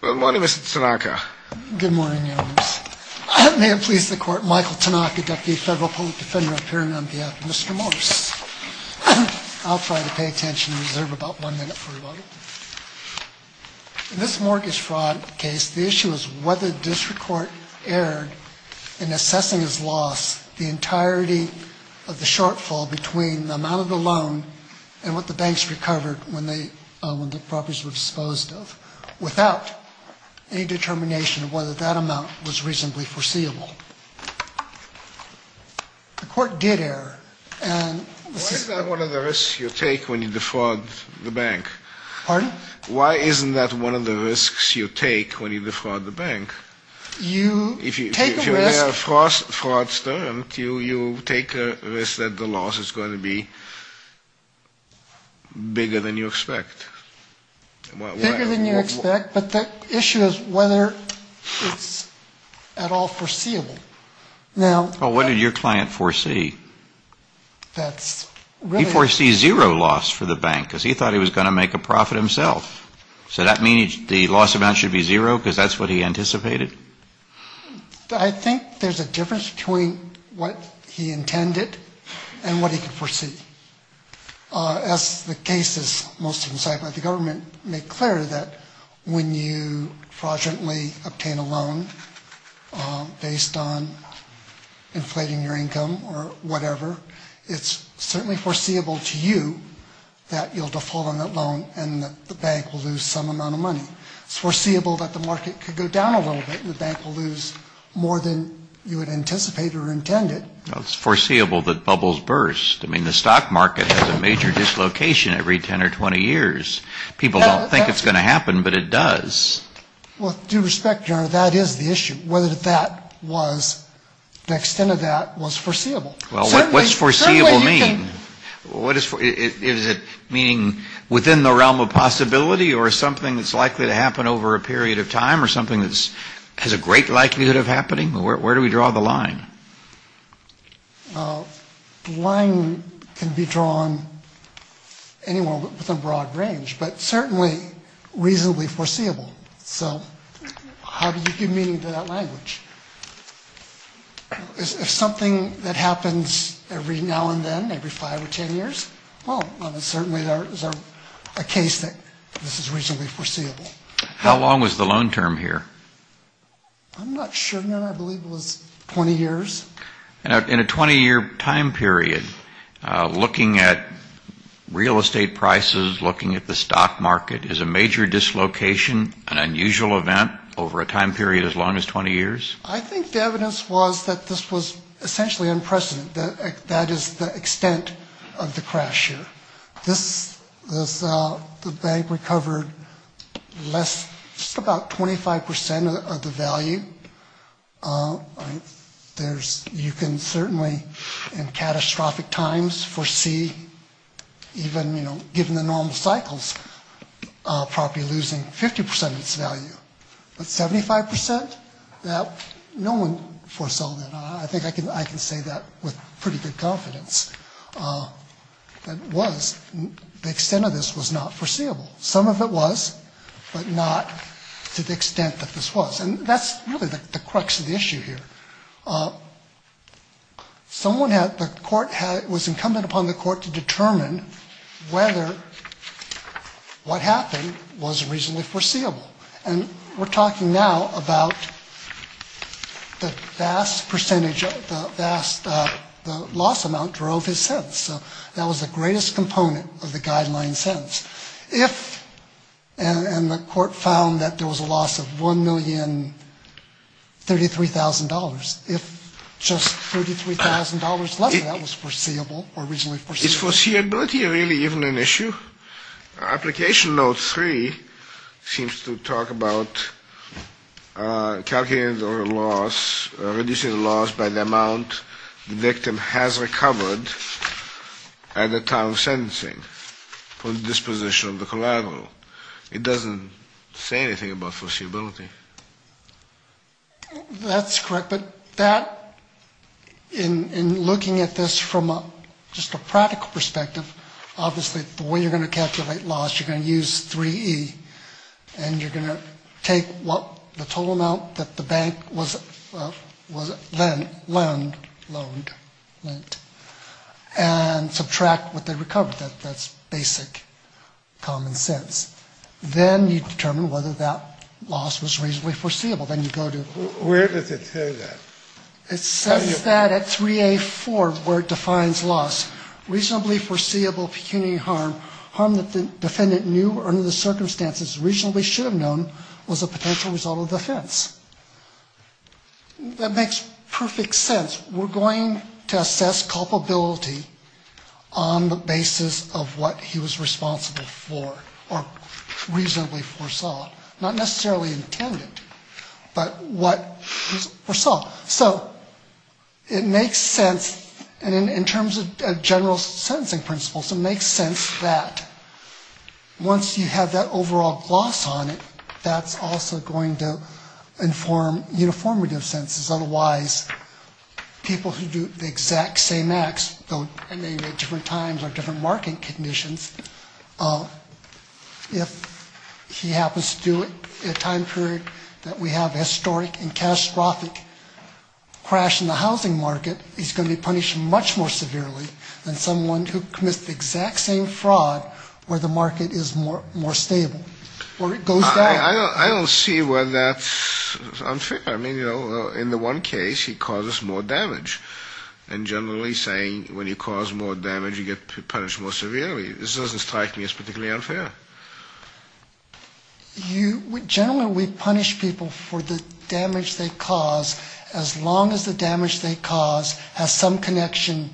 Good morning, Mr. Tanaka. Good morning, Your Honors. May it please the Court, Michael Tanaka, Deputy Federal Public Defender of Pyramid on behalf of Mr. Morris. I'll try to pay attention and reserve about one minute for you all. In this mortgage fraud case, the issue is whether the district court erred in assessing its loss, the entirety of the shortfall between the amount of the loan and what the banks recovered when the properties were disposed of, without any determination of whether that amount was reasonably foreseeable. The court did err. Why is that one of the risks you take when you defraud the bank? Pardon? Why isn't that one of the risks you take when you defraud the bank? You take a risk. If you're near a fraudster, you take a risk that the loss is going to be bigger than you expect. Bigger than you expect, but the issue is whether it's at all foreseeable. Well, what did your client foresee? He foresees zero loss for the bank because he thought he was going to make a profit himself. So that means the loss amount should be zero because that's what he anticipated? I think there's a difference between what he intended and what he could foresee. As the case is most insightful, the government made clear that when you fraudulently obtain a loan based on inflating your income or whatever, it's certainly foreseeable to you that you'll default on that loan and that the bank will lose some amount of money. It's foreseeable that the market could go down a little bit and the bank will lose more than you had anticipated or intended. Well, it's foreseeable that bubbles burst. I mean, the stock market has a major dislocation every 10 or 20 years. People don't think it's going to happen, but it does. With due respect, Your Honor, that is the issue, whether that was the extent of that was foreseeable. Well, what's foreseeable mean? Is it meaning within the realm of possibility or something that's likely to happen over a period of time or something that has a great likelihood of happening? Where do we draw the line? The line can be drawn anywhere within broad range, but certainly reasonably foreseeable. So how do you give meaning to that language? If something that happens every now and then, every 5 or 10 years, well, then certainly there is a case that this is reasonably foreseeable. How long was the loan term here? I'm not sure, Your Honor. I believe it was 20 years. In a 20-year time period, looking at real estate prices, looking at the stock market, is a major dislocation an unusual event over a time period as long as 20 years? I think the evidence was that this was essentially unprecedented. That is the extent of the crash here. This, the bank recovered less, just about 25% of the value. There's, you can certainly, in catastrophic times, foresee even, you know, given the normal cycles, property losing 50% of its value. But 75%? That, no one foresaw that. I think I can say that with pretty good confidence. That was, the extent of this was not foreseeable. Some of it was, but not to the extent that this was. And that's really the crux of the issue here. Someone had, the court had, it was incumbent upon the court to determine whether what happened was reasonably foreseeable. And we're talking now about the vast percentage, the vast, the loss amount drove his sentence. So that was the greatest component of the guideline sentence. If, and the court found that there was a loss of $1,033,000, if just $33,000 less of that was foreseeable or reasonably foreseeable. Is foreseeability really even an issue? Application note three seems to talk about calculating the loss, reducing the loss by the amount the victim has recovered at the time of sentencing, from the disposition of the collateral. It doesn't say anything about foreseeability. That's correct. But that, in looking at this from a, just a practical perspective, obviously the way you're going to calculate loss, you're going to use 3E. And you're going to take what, the total amount that the bank was, was, lent, loaned, loaned, lent, and subtract what they recovered. That's basic common sense. Then you determine whether that loss was reasonably foreseeable. Where does it say that? It says that at 3A.4, where it defines loss. Reasonably foreseeable pecuniary harm, harm that the defendant knew or under the circumstances reasonably should have known was a potential result of the offense. That makes perfect sense. We're going to assess culpability on the basis of what he was responsible for or reasonably foresaw, not necessarily intended. But what he foresaw. So it makes sense, and in terms of general sentencing principles, it makes sense that once you have that overall loss on it, that's also going to inform uniformity of sentences. Otherwise, people who do the exact same acts, though at different times or different market conditions, if he happens to do it at a time period that we have evidence of, that's going to be a problem. If he does it at a time period, if he has a historic and catastrophic crash in the housing market, he's going to be punished much more severely than someone who commits the exact same fraud where the market is more stable. I don't see where that's unfair. In the one case, he causes more damage. And generally saying when you cause more damage, you get punished more severely. This doesn't strike me as particularly unfair. Generally we punish people for the damage they cause as long as the damage they cause has some connection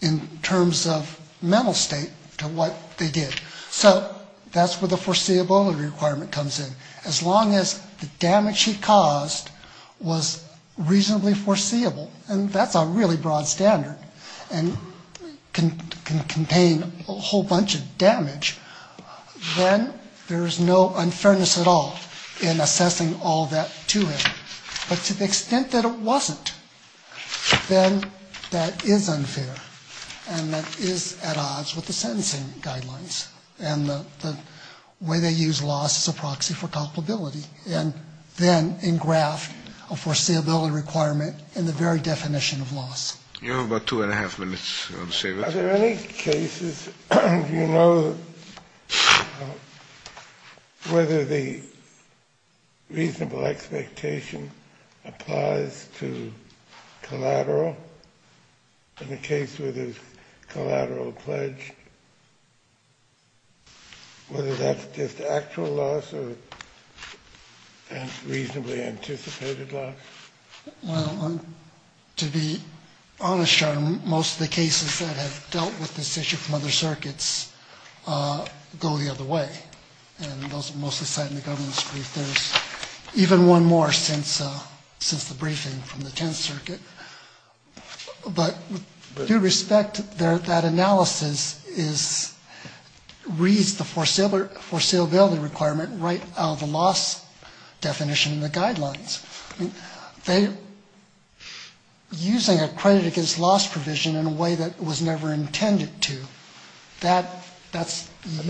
in terms of mental state to what they did. So that's where the foreseeability requirement comes in. As long as the damage he caused was reasonably foreseeable. And that's a really broad standard and can contain a whole bunch of damage. Then there's no unfairness at all in assessing all that to him. But to the extent that it wasn't, then that is unfair. And that is at odds with the sentencing guidelines and the way they use loss as a proxy for culpability. And then engraft a foreseeability requirement in the very definition of loss. You have about two and a half minutes. Are there any cases, do you know whether the reasonable expectation applies to collateral? In the case where there's collateral pledged, whether that's just actual loss or reasonably anticipated loss? Well, to be honest, most of the cases that have dealt with this issue from other circuits go the other way. And those are mostly cited in the governance brief. There's even one more since the briefing from the Tenth Circuit. But with due respect, that analysis reads the foreseeability requirement right out of the loss definition in the guidelines. They're using a credit against loss provision in a way that was never intended to. That's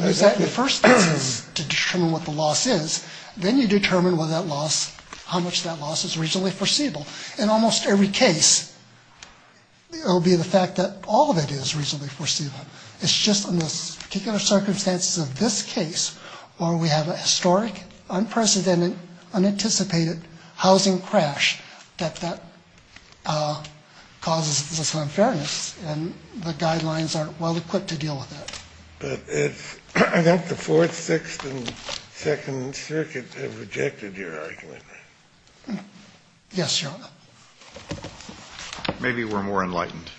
the first thing to determine what the loss is. Then you determine whether that loss, how much that loss is reasonably foreseeable. In almost every case, it will be the fact that all of it is reasonably foreseeable. It's just in this particular circumstance of this case where we have a historic, unprecedented, unanticipated housing crash. That causes this unfairness, and the guidelines aren't well-equipped to deal with it. But I think the Fourth, Sixth, and Second Circuit have rejected your argument. Yes, Your Honor. Maybe we're more enlightened.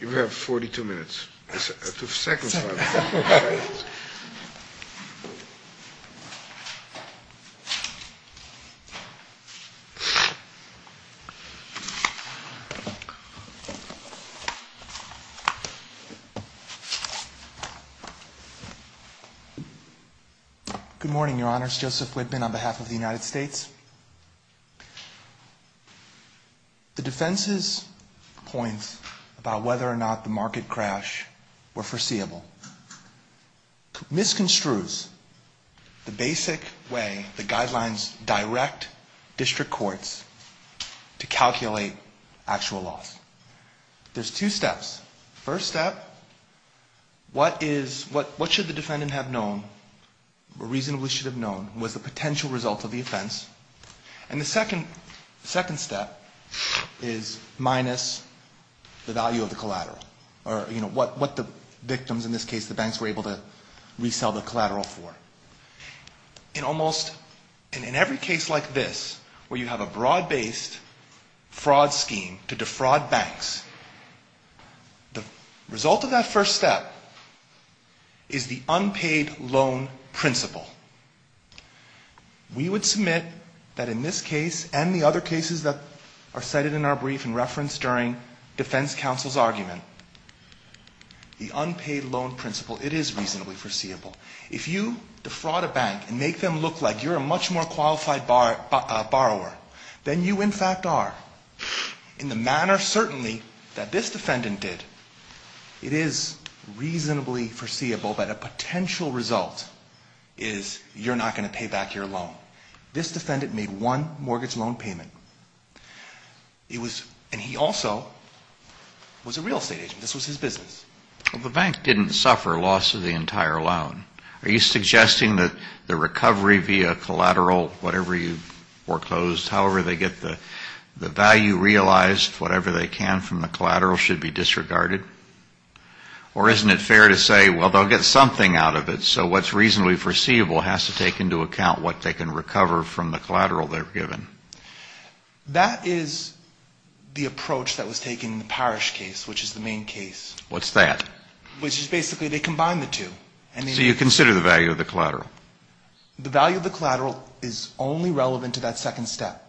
You have 42 minutes. Second. Good morning, Your Honor. It's Joseph Whitman on behalf of the United States. The defense's point about whether or not the market crash were foreseeable misconstrues the basic way the guidelines direct the market crash. The first step in a lawsuit is to go to the district courts to calculate actual loss. There's two steps. The first step, what should the defendant have known or reasonably should have known was the potential result of the offense. And the second step is minus the value of the collateral or what the victims, in this case the banks, were able to resell the collateral for. In every case like this, where you have a broad-based fraud scheme to defraud banks, the result of that first step is the unpaid loan principle. We would submit that in this case and the other cases that are cited in our brief and referenced during defense counsel's argument, the unpaid loan principle, it is reasonably foreseeable. If you defraud a bank and make them look like you're a much more qualified borrower, then you in fact are. In the manner certainly that this defendant did, it is reasonably foreseeable that a potential result is you're not going to pay back your loan. This defendant made one mortgage loan payment. And he also was a real estate agent. This was his business. The bank didn't suffer loss of the entire loan. Are you suggesting that the recovery via collateral, whatever you foreclosed, however they get the value realized, whatever they can from the collateral, should be disregarded? Or isn't it fair to say, well, they'll get something out of it, so what's reasonably foreseeable has to take into account what they can recover from the collateral they're given? That is the approach that was taken in the Parrish case, which is the main case. Which is basically they combine the two. So you consider the value of the collateral? The value of the collateral is only relevant to that second step.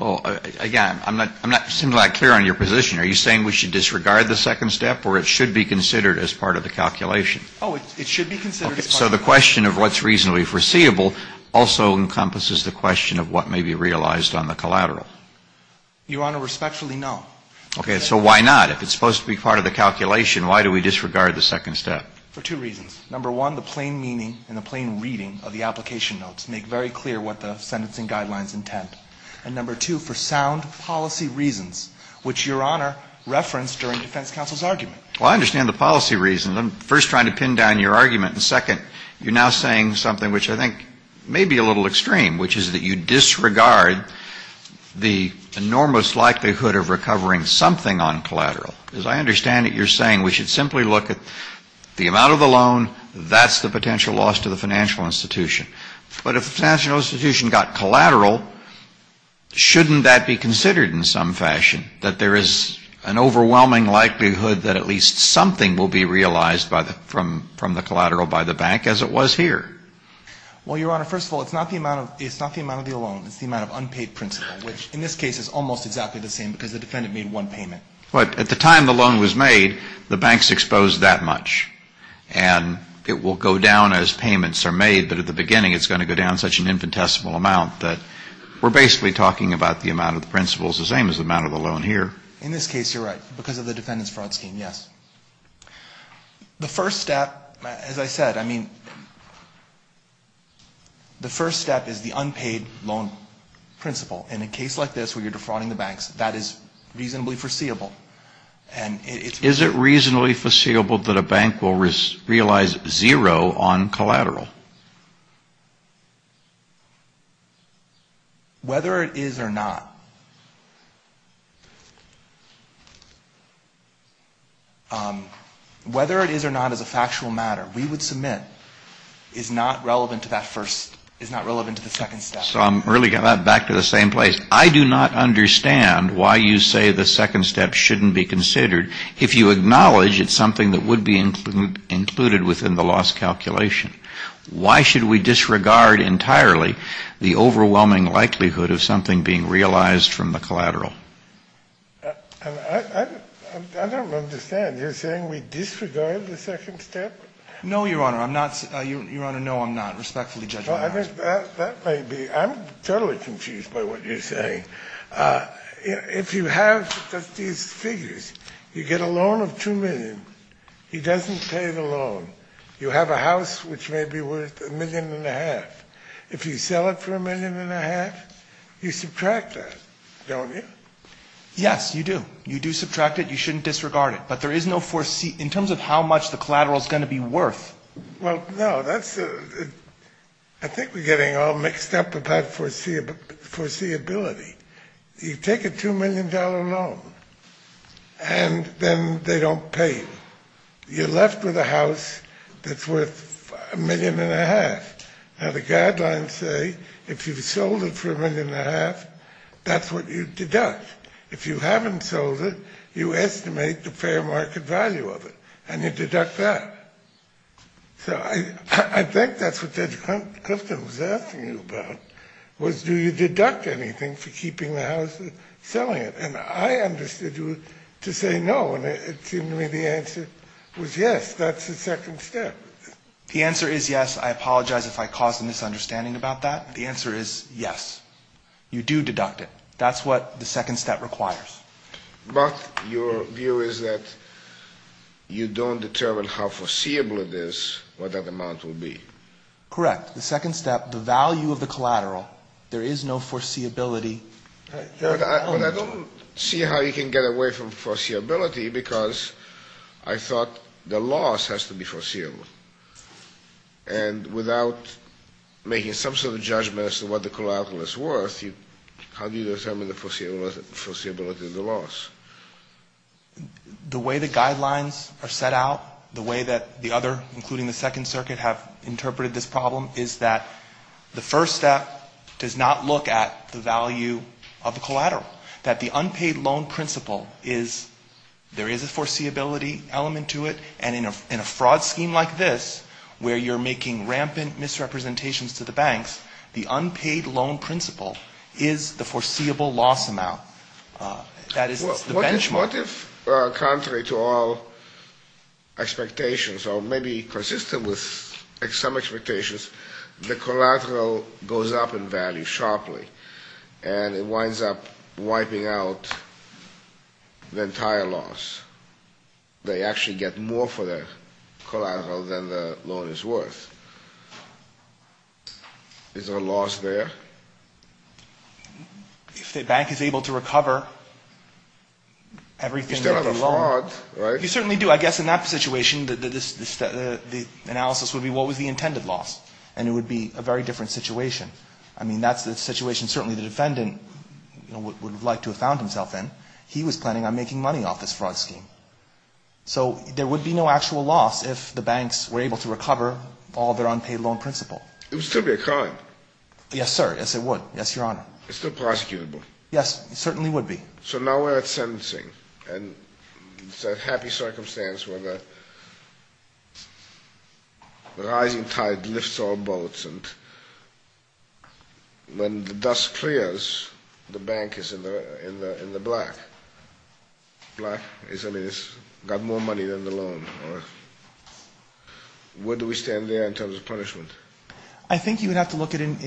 Again, I'm not clear on your position. Are you saying we should disregard the second step, or it should be considered as part of the calculation? Oh, it should be considered as part of the calculation. So the question of what's reasonably foreseeable also encompasses the question of what may be realized on the collateral? Your Honor, respectfully, no. Okay, so why not? If it's supposed to be part of the calculation, why do we disregard the second step? For two reasons. Number one, the plain meaning and the plain reading of the application notes make very clear what the sentencing guidelines intend. And number two, for sound policy reasons, which Your Honor referenced during defense counsel's argument. Well, I understand the policy reasons. I'm first trying to pin down your argument, and second, you're now saying something which I think may be a little extreme, which is that you disregard the enormous likelihood of recovering something on collateral. As I understand it, you're saying we should simply look at the amount of the loan, that's the potential loss to the financial institution. But if the financial institution got collateral, shouldn't that be considered in some fashion, that there is an overwhelming likelihood that at least something will be realized from the collateral by the bank, as it was here? Well, Your Honor, first of all, it's not the amount of the loan. It's the amount of unpaid principal, which in this case is almost exactly the same because the defendant made one payment. But at the time the loan was made, the banks exposed that much. And it will go down as payments are made, but at the beginning it's going to go down such an infinitesimal amount that we're basically talking about the amount of the principal is the same as the amount of the loan here. In this case, you're right, because of the defendant's fraud scheme, yes. The first step, as I said, I mean, the first step is the unpaid loan principal. And in a case like this where you're defrauding the banks, that is reasonably foreseeable. Is it reasonably foreseeable that a bank will realize zero on collateral? Whether it is or not. Whether it is or not as a factual matter, we would submit, is not relevant to that first, is not relevant to the second step. So I'm really going to go back to the same place. I do not understand why you say the second step shouldn't be considered if you acknowledge it's something that would be included within the loss calculation. Why should we disregard entirely the overwhelming likelihood of something being realized from the collateral? I don't understand. You're saying we disregard the second step? No, Your Honor. I'm not. Your Honor, no, I'm not. Respectfully judge my argument. That may be. I'm totally confused by what you're saying. If you have these figures, you get a loan of $2 million. He doesn't pay the loan. You have a house which may be worth $1.5 million. If you sell it for $1.5 million, you subtract that, don't you? Yes, you do. You do subtract it. You shouldn't disregard it. But there is no foreseeable, in terms of how much the collateral is going to be worth. Well, no, that's, I think we're getting all mixed up about foreseeability. You take a $2 million loan, and then they don't pay you. Now, the guidelines say if you've sold it for $1.5 million, that's what you deduct. If you haven't sold it, you estimate the fair market value of it, and you deduct that. So I think that's what Judge Clifton was asking you about, was do you deduct anything for keeping the house and selling it? And I understood you to say no, and it seemed to me the answer was yes, that's the second step. The answer is yes. I apologize if I caused a misunderstanding about that. The answer is yes, you do deduct it. That's what the second step requires. But your view is that you don't determine how foreseeable it is, what that amount will be. Correct. The second step, the value of the collateral, there is no foreseeability. But I don't see how you can get away from foreseeability, because I thought the loss has to be foreseeable. And without making some sort of judgment as to what the collateral is worth, how do you determine the foreseeability of the loss? The way the guidelines are set out, the way that the other, including the Second Circuit, have interpreted this problem, is that the first step does not look at the value of the collateral, that the unpaid loan principle is, there is a foreseeability element to it, and in a fraud scheme like this, where you're making rampant misrepresentations to the banks, the unpaid loan principle is the foreseeable loss amount. Well, what if, contrary to all expectations, or maybe consistent with some expectations, the collateral goes up in value sharply, and it winds up wiping out the entire loss? They actually get more for their collateral than the loan is worth. Is there a loss there? If the bank is able to recover everything that they loaned. You still have a fraud, right? You certainly do. I guess in that situation, the analysis would be, what was the intended loss? And it would be a very different situation. I mean, that's the situation certainly the defendant would have liked to have found himself in. He was planning on making money off this fraud scheme. So there would be no actual loss if the banks were able to recover all their unpaid loan principle. It would still be a crime. Yes, sir. Yes, it would. Yes, Your Honor. It's still prosecutable. Yes, it certainly would be. So now we're at sentencing, and it's a happy circumstance where the rising tide lifts all boats, and when the dust clears, the bank is in the black. Black is, I mean, it's got more money than the loan. Where do we stand there in terms of punishment? I think you would have to look at the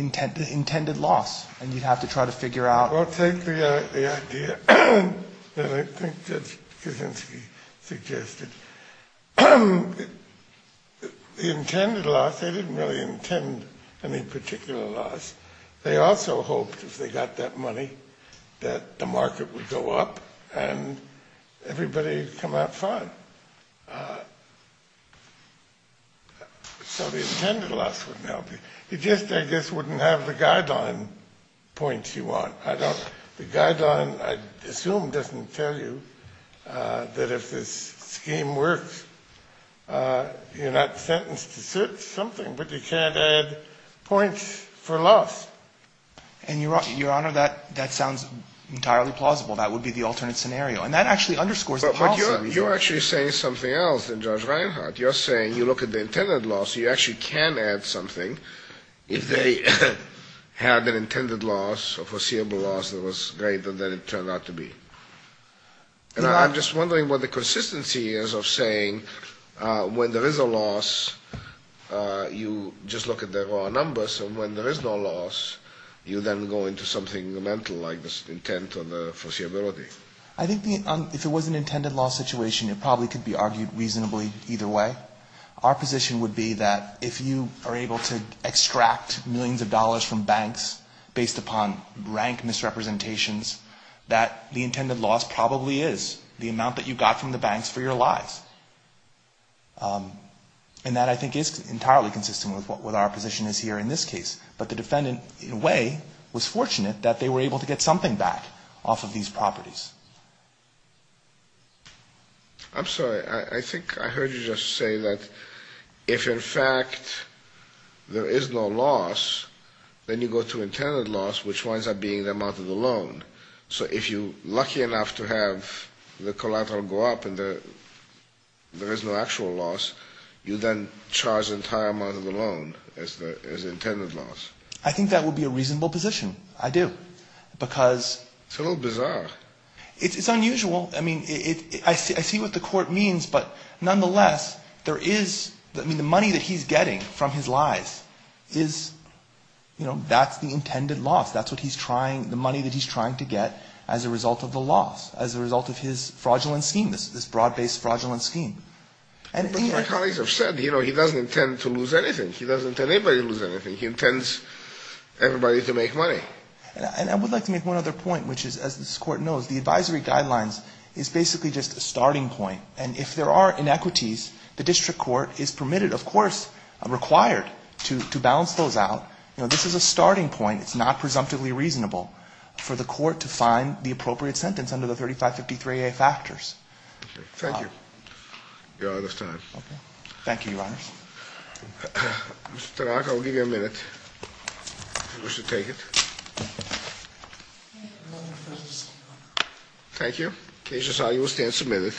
intended loss, and you'd have to try to figure out. Well, take the idea that I think Judge Kaczynski suggested. The intended loss, they didn't really intend any particular loss. They also hoped if they got that money that the market would go up and everybody would come out fine. So the intended loss wouldn't help you. It just, I guess, wouldn't have the guideline points you want. The guideline, I assume, doesn't tell you that if this scheme works, you're not sentenced to certain something, but you can't add points for loss. And, Your Honor, that sounds entirely plausible. That would be the alternate scenario. And that actually underscores the policy. You're actually saying something else than Judge Reinhart. You're saying you look at the intended loss. You actually can add something if they had an intended loss or foreseeable loss that was greater than it turned out to be. And I'm just wondering what the consistency is of saying when there is a loss, you just look at the raw numbers, and when there is no loss, you then go into something mental like the intent or the foreseeability. I think if it was an intended loss situation, it probably could be argued reasonably either way. Our position would be that if you are able to extract millions of dollars from banks based upon rank misrepresentations, that the intended loss probably is the amount that you got from the banks for your lives. And that, I think, is entirely consistent with what our position is here in this case. But the defendant, in a way, was fortunate that they were able to get something back off of these properties. I'm sorry. I think I heard you just say that if, in fact, there is no loss, then you go to intended loss, which winds up being the amount of the loan. So if you're lucky enough to have the collateral go up and there is no actual loss, you then charge an entire amount of the loan as intended loss. I think that would be a reasonable position. I do. Because... It's a little bizarre. It's unusual. I mean, I see what the court means, but nonetheless, there is, I mean, the money that he's getting from his lives is, you know, that's the intended loss. That's what he's trying, the money that he's trying to get as a result of the loss, as a result of his fraudulent scheme, this broad-based fraudulent scheme. But my colleagues have said, you know, he doesn't intend to lose anything. He doesn't intend anybody to lose anything. He intends everybody to make money. And I would like to make one other point, which is, as this Court knows, the advisory guidelines is basically just a starting point. And if there are inequities, the district court is permitted, of course, required to balance those out. You know, this is a starting point. It's not presumptively reasonable for the court to find the appropriate sentence under the 3553A factors. Thank you. You're out of time. Okay. Thank you, Your Honors. Mr. Tarrack, I'll give you a minute, if you wish to take it. Thank you. Case decided. You will stand submitted.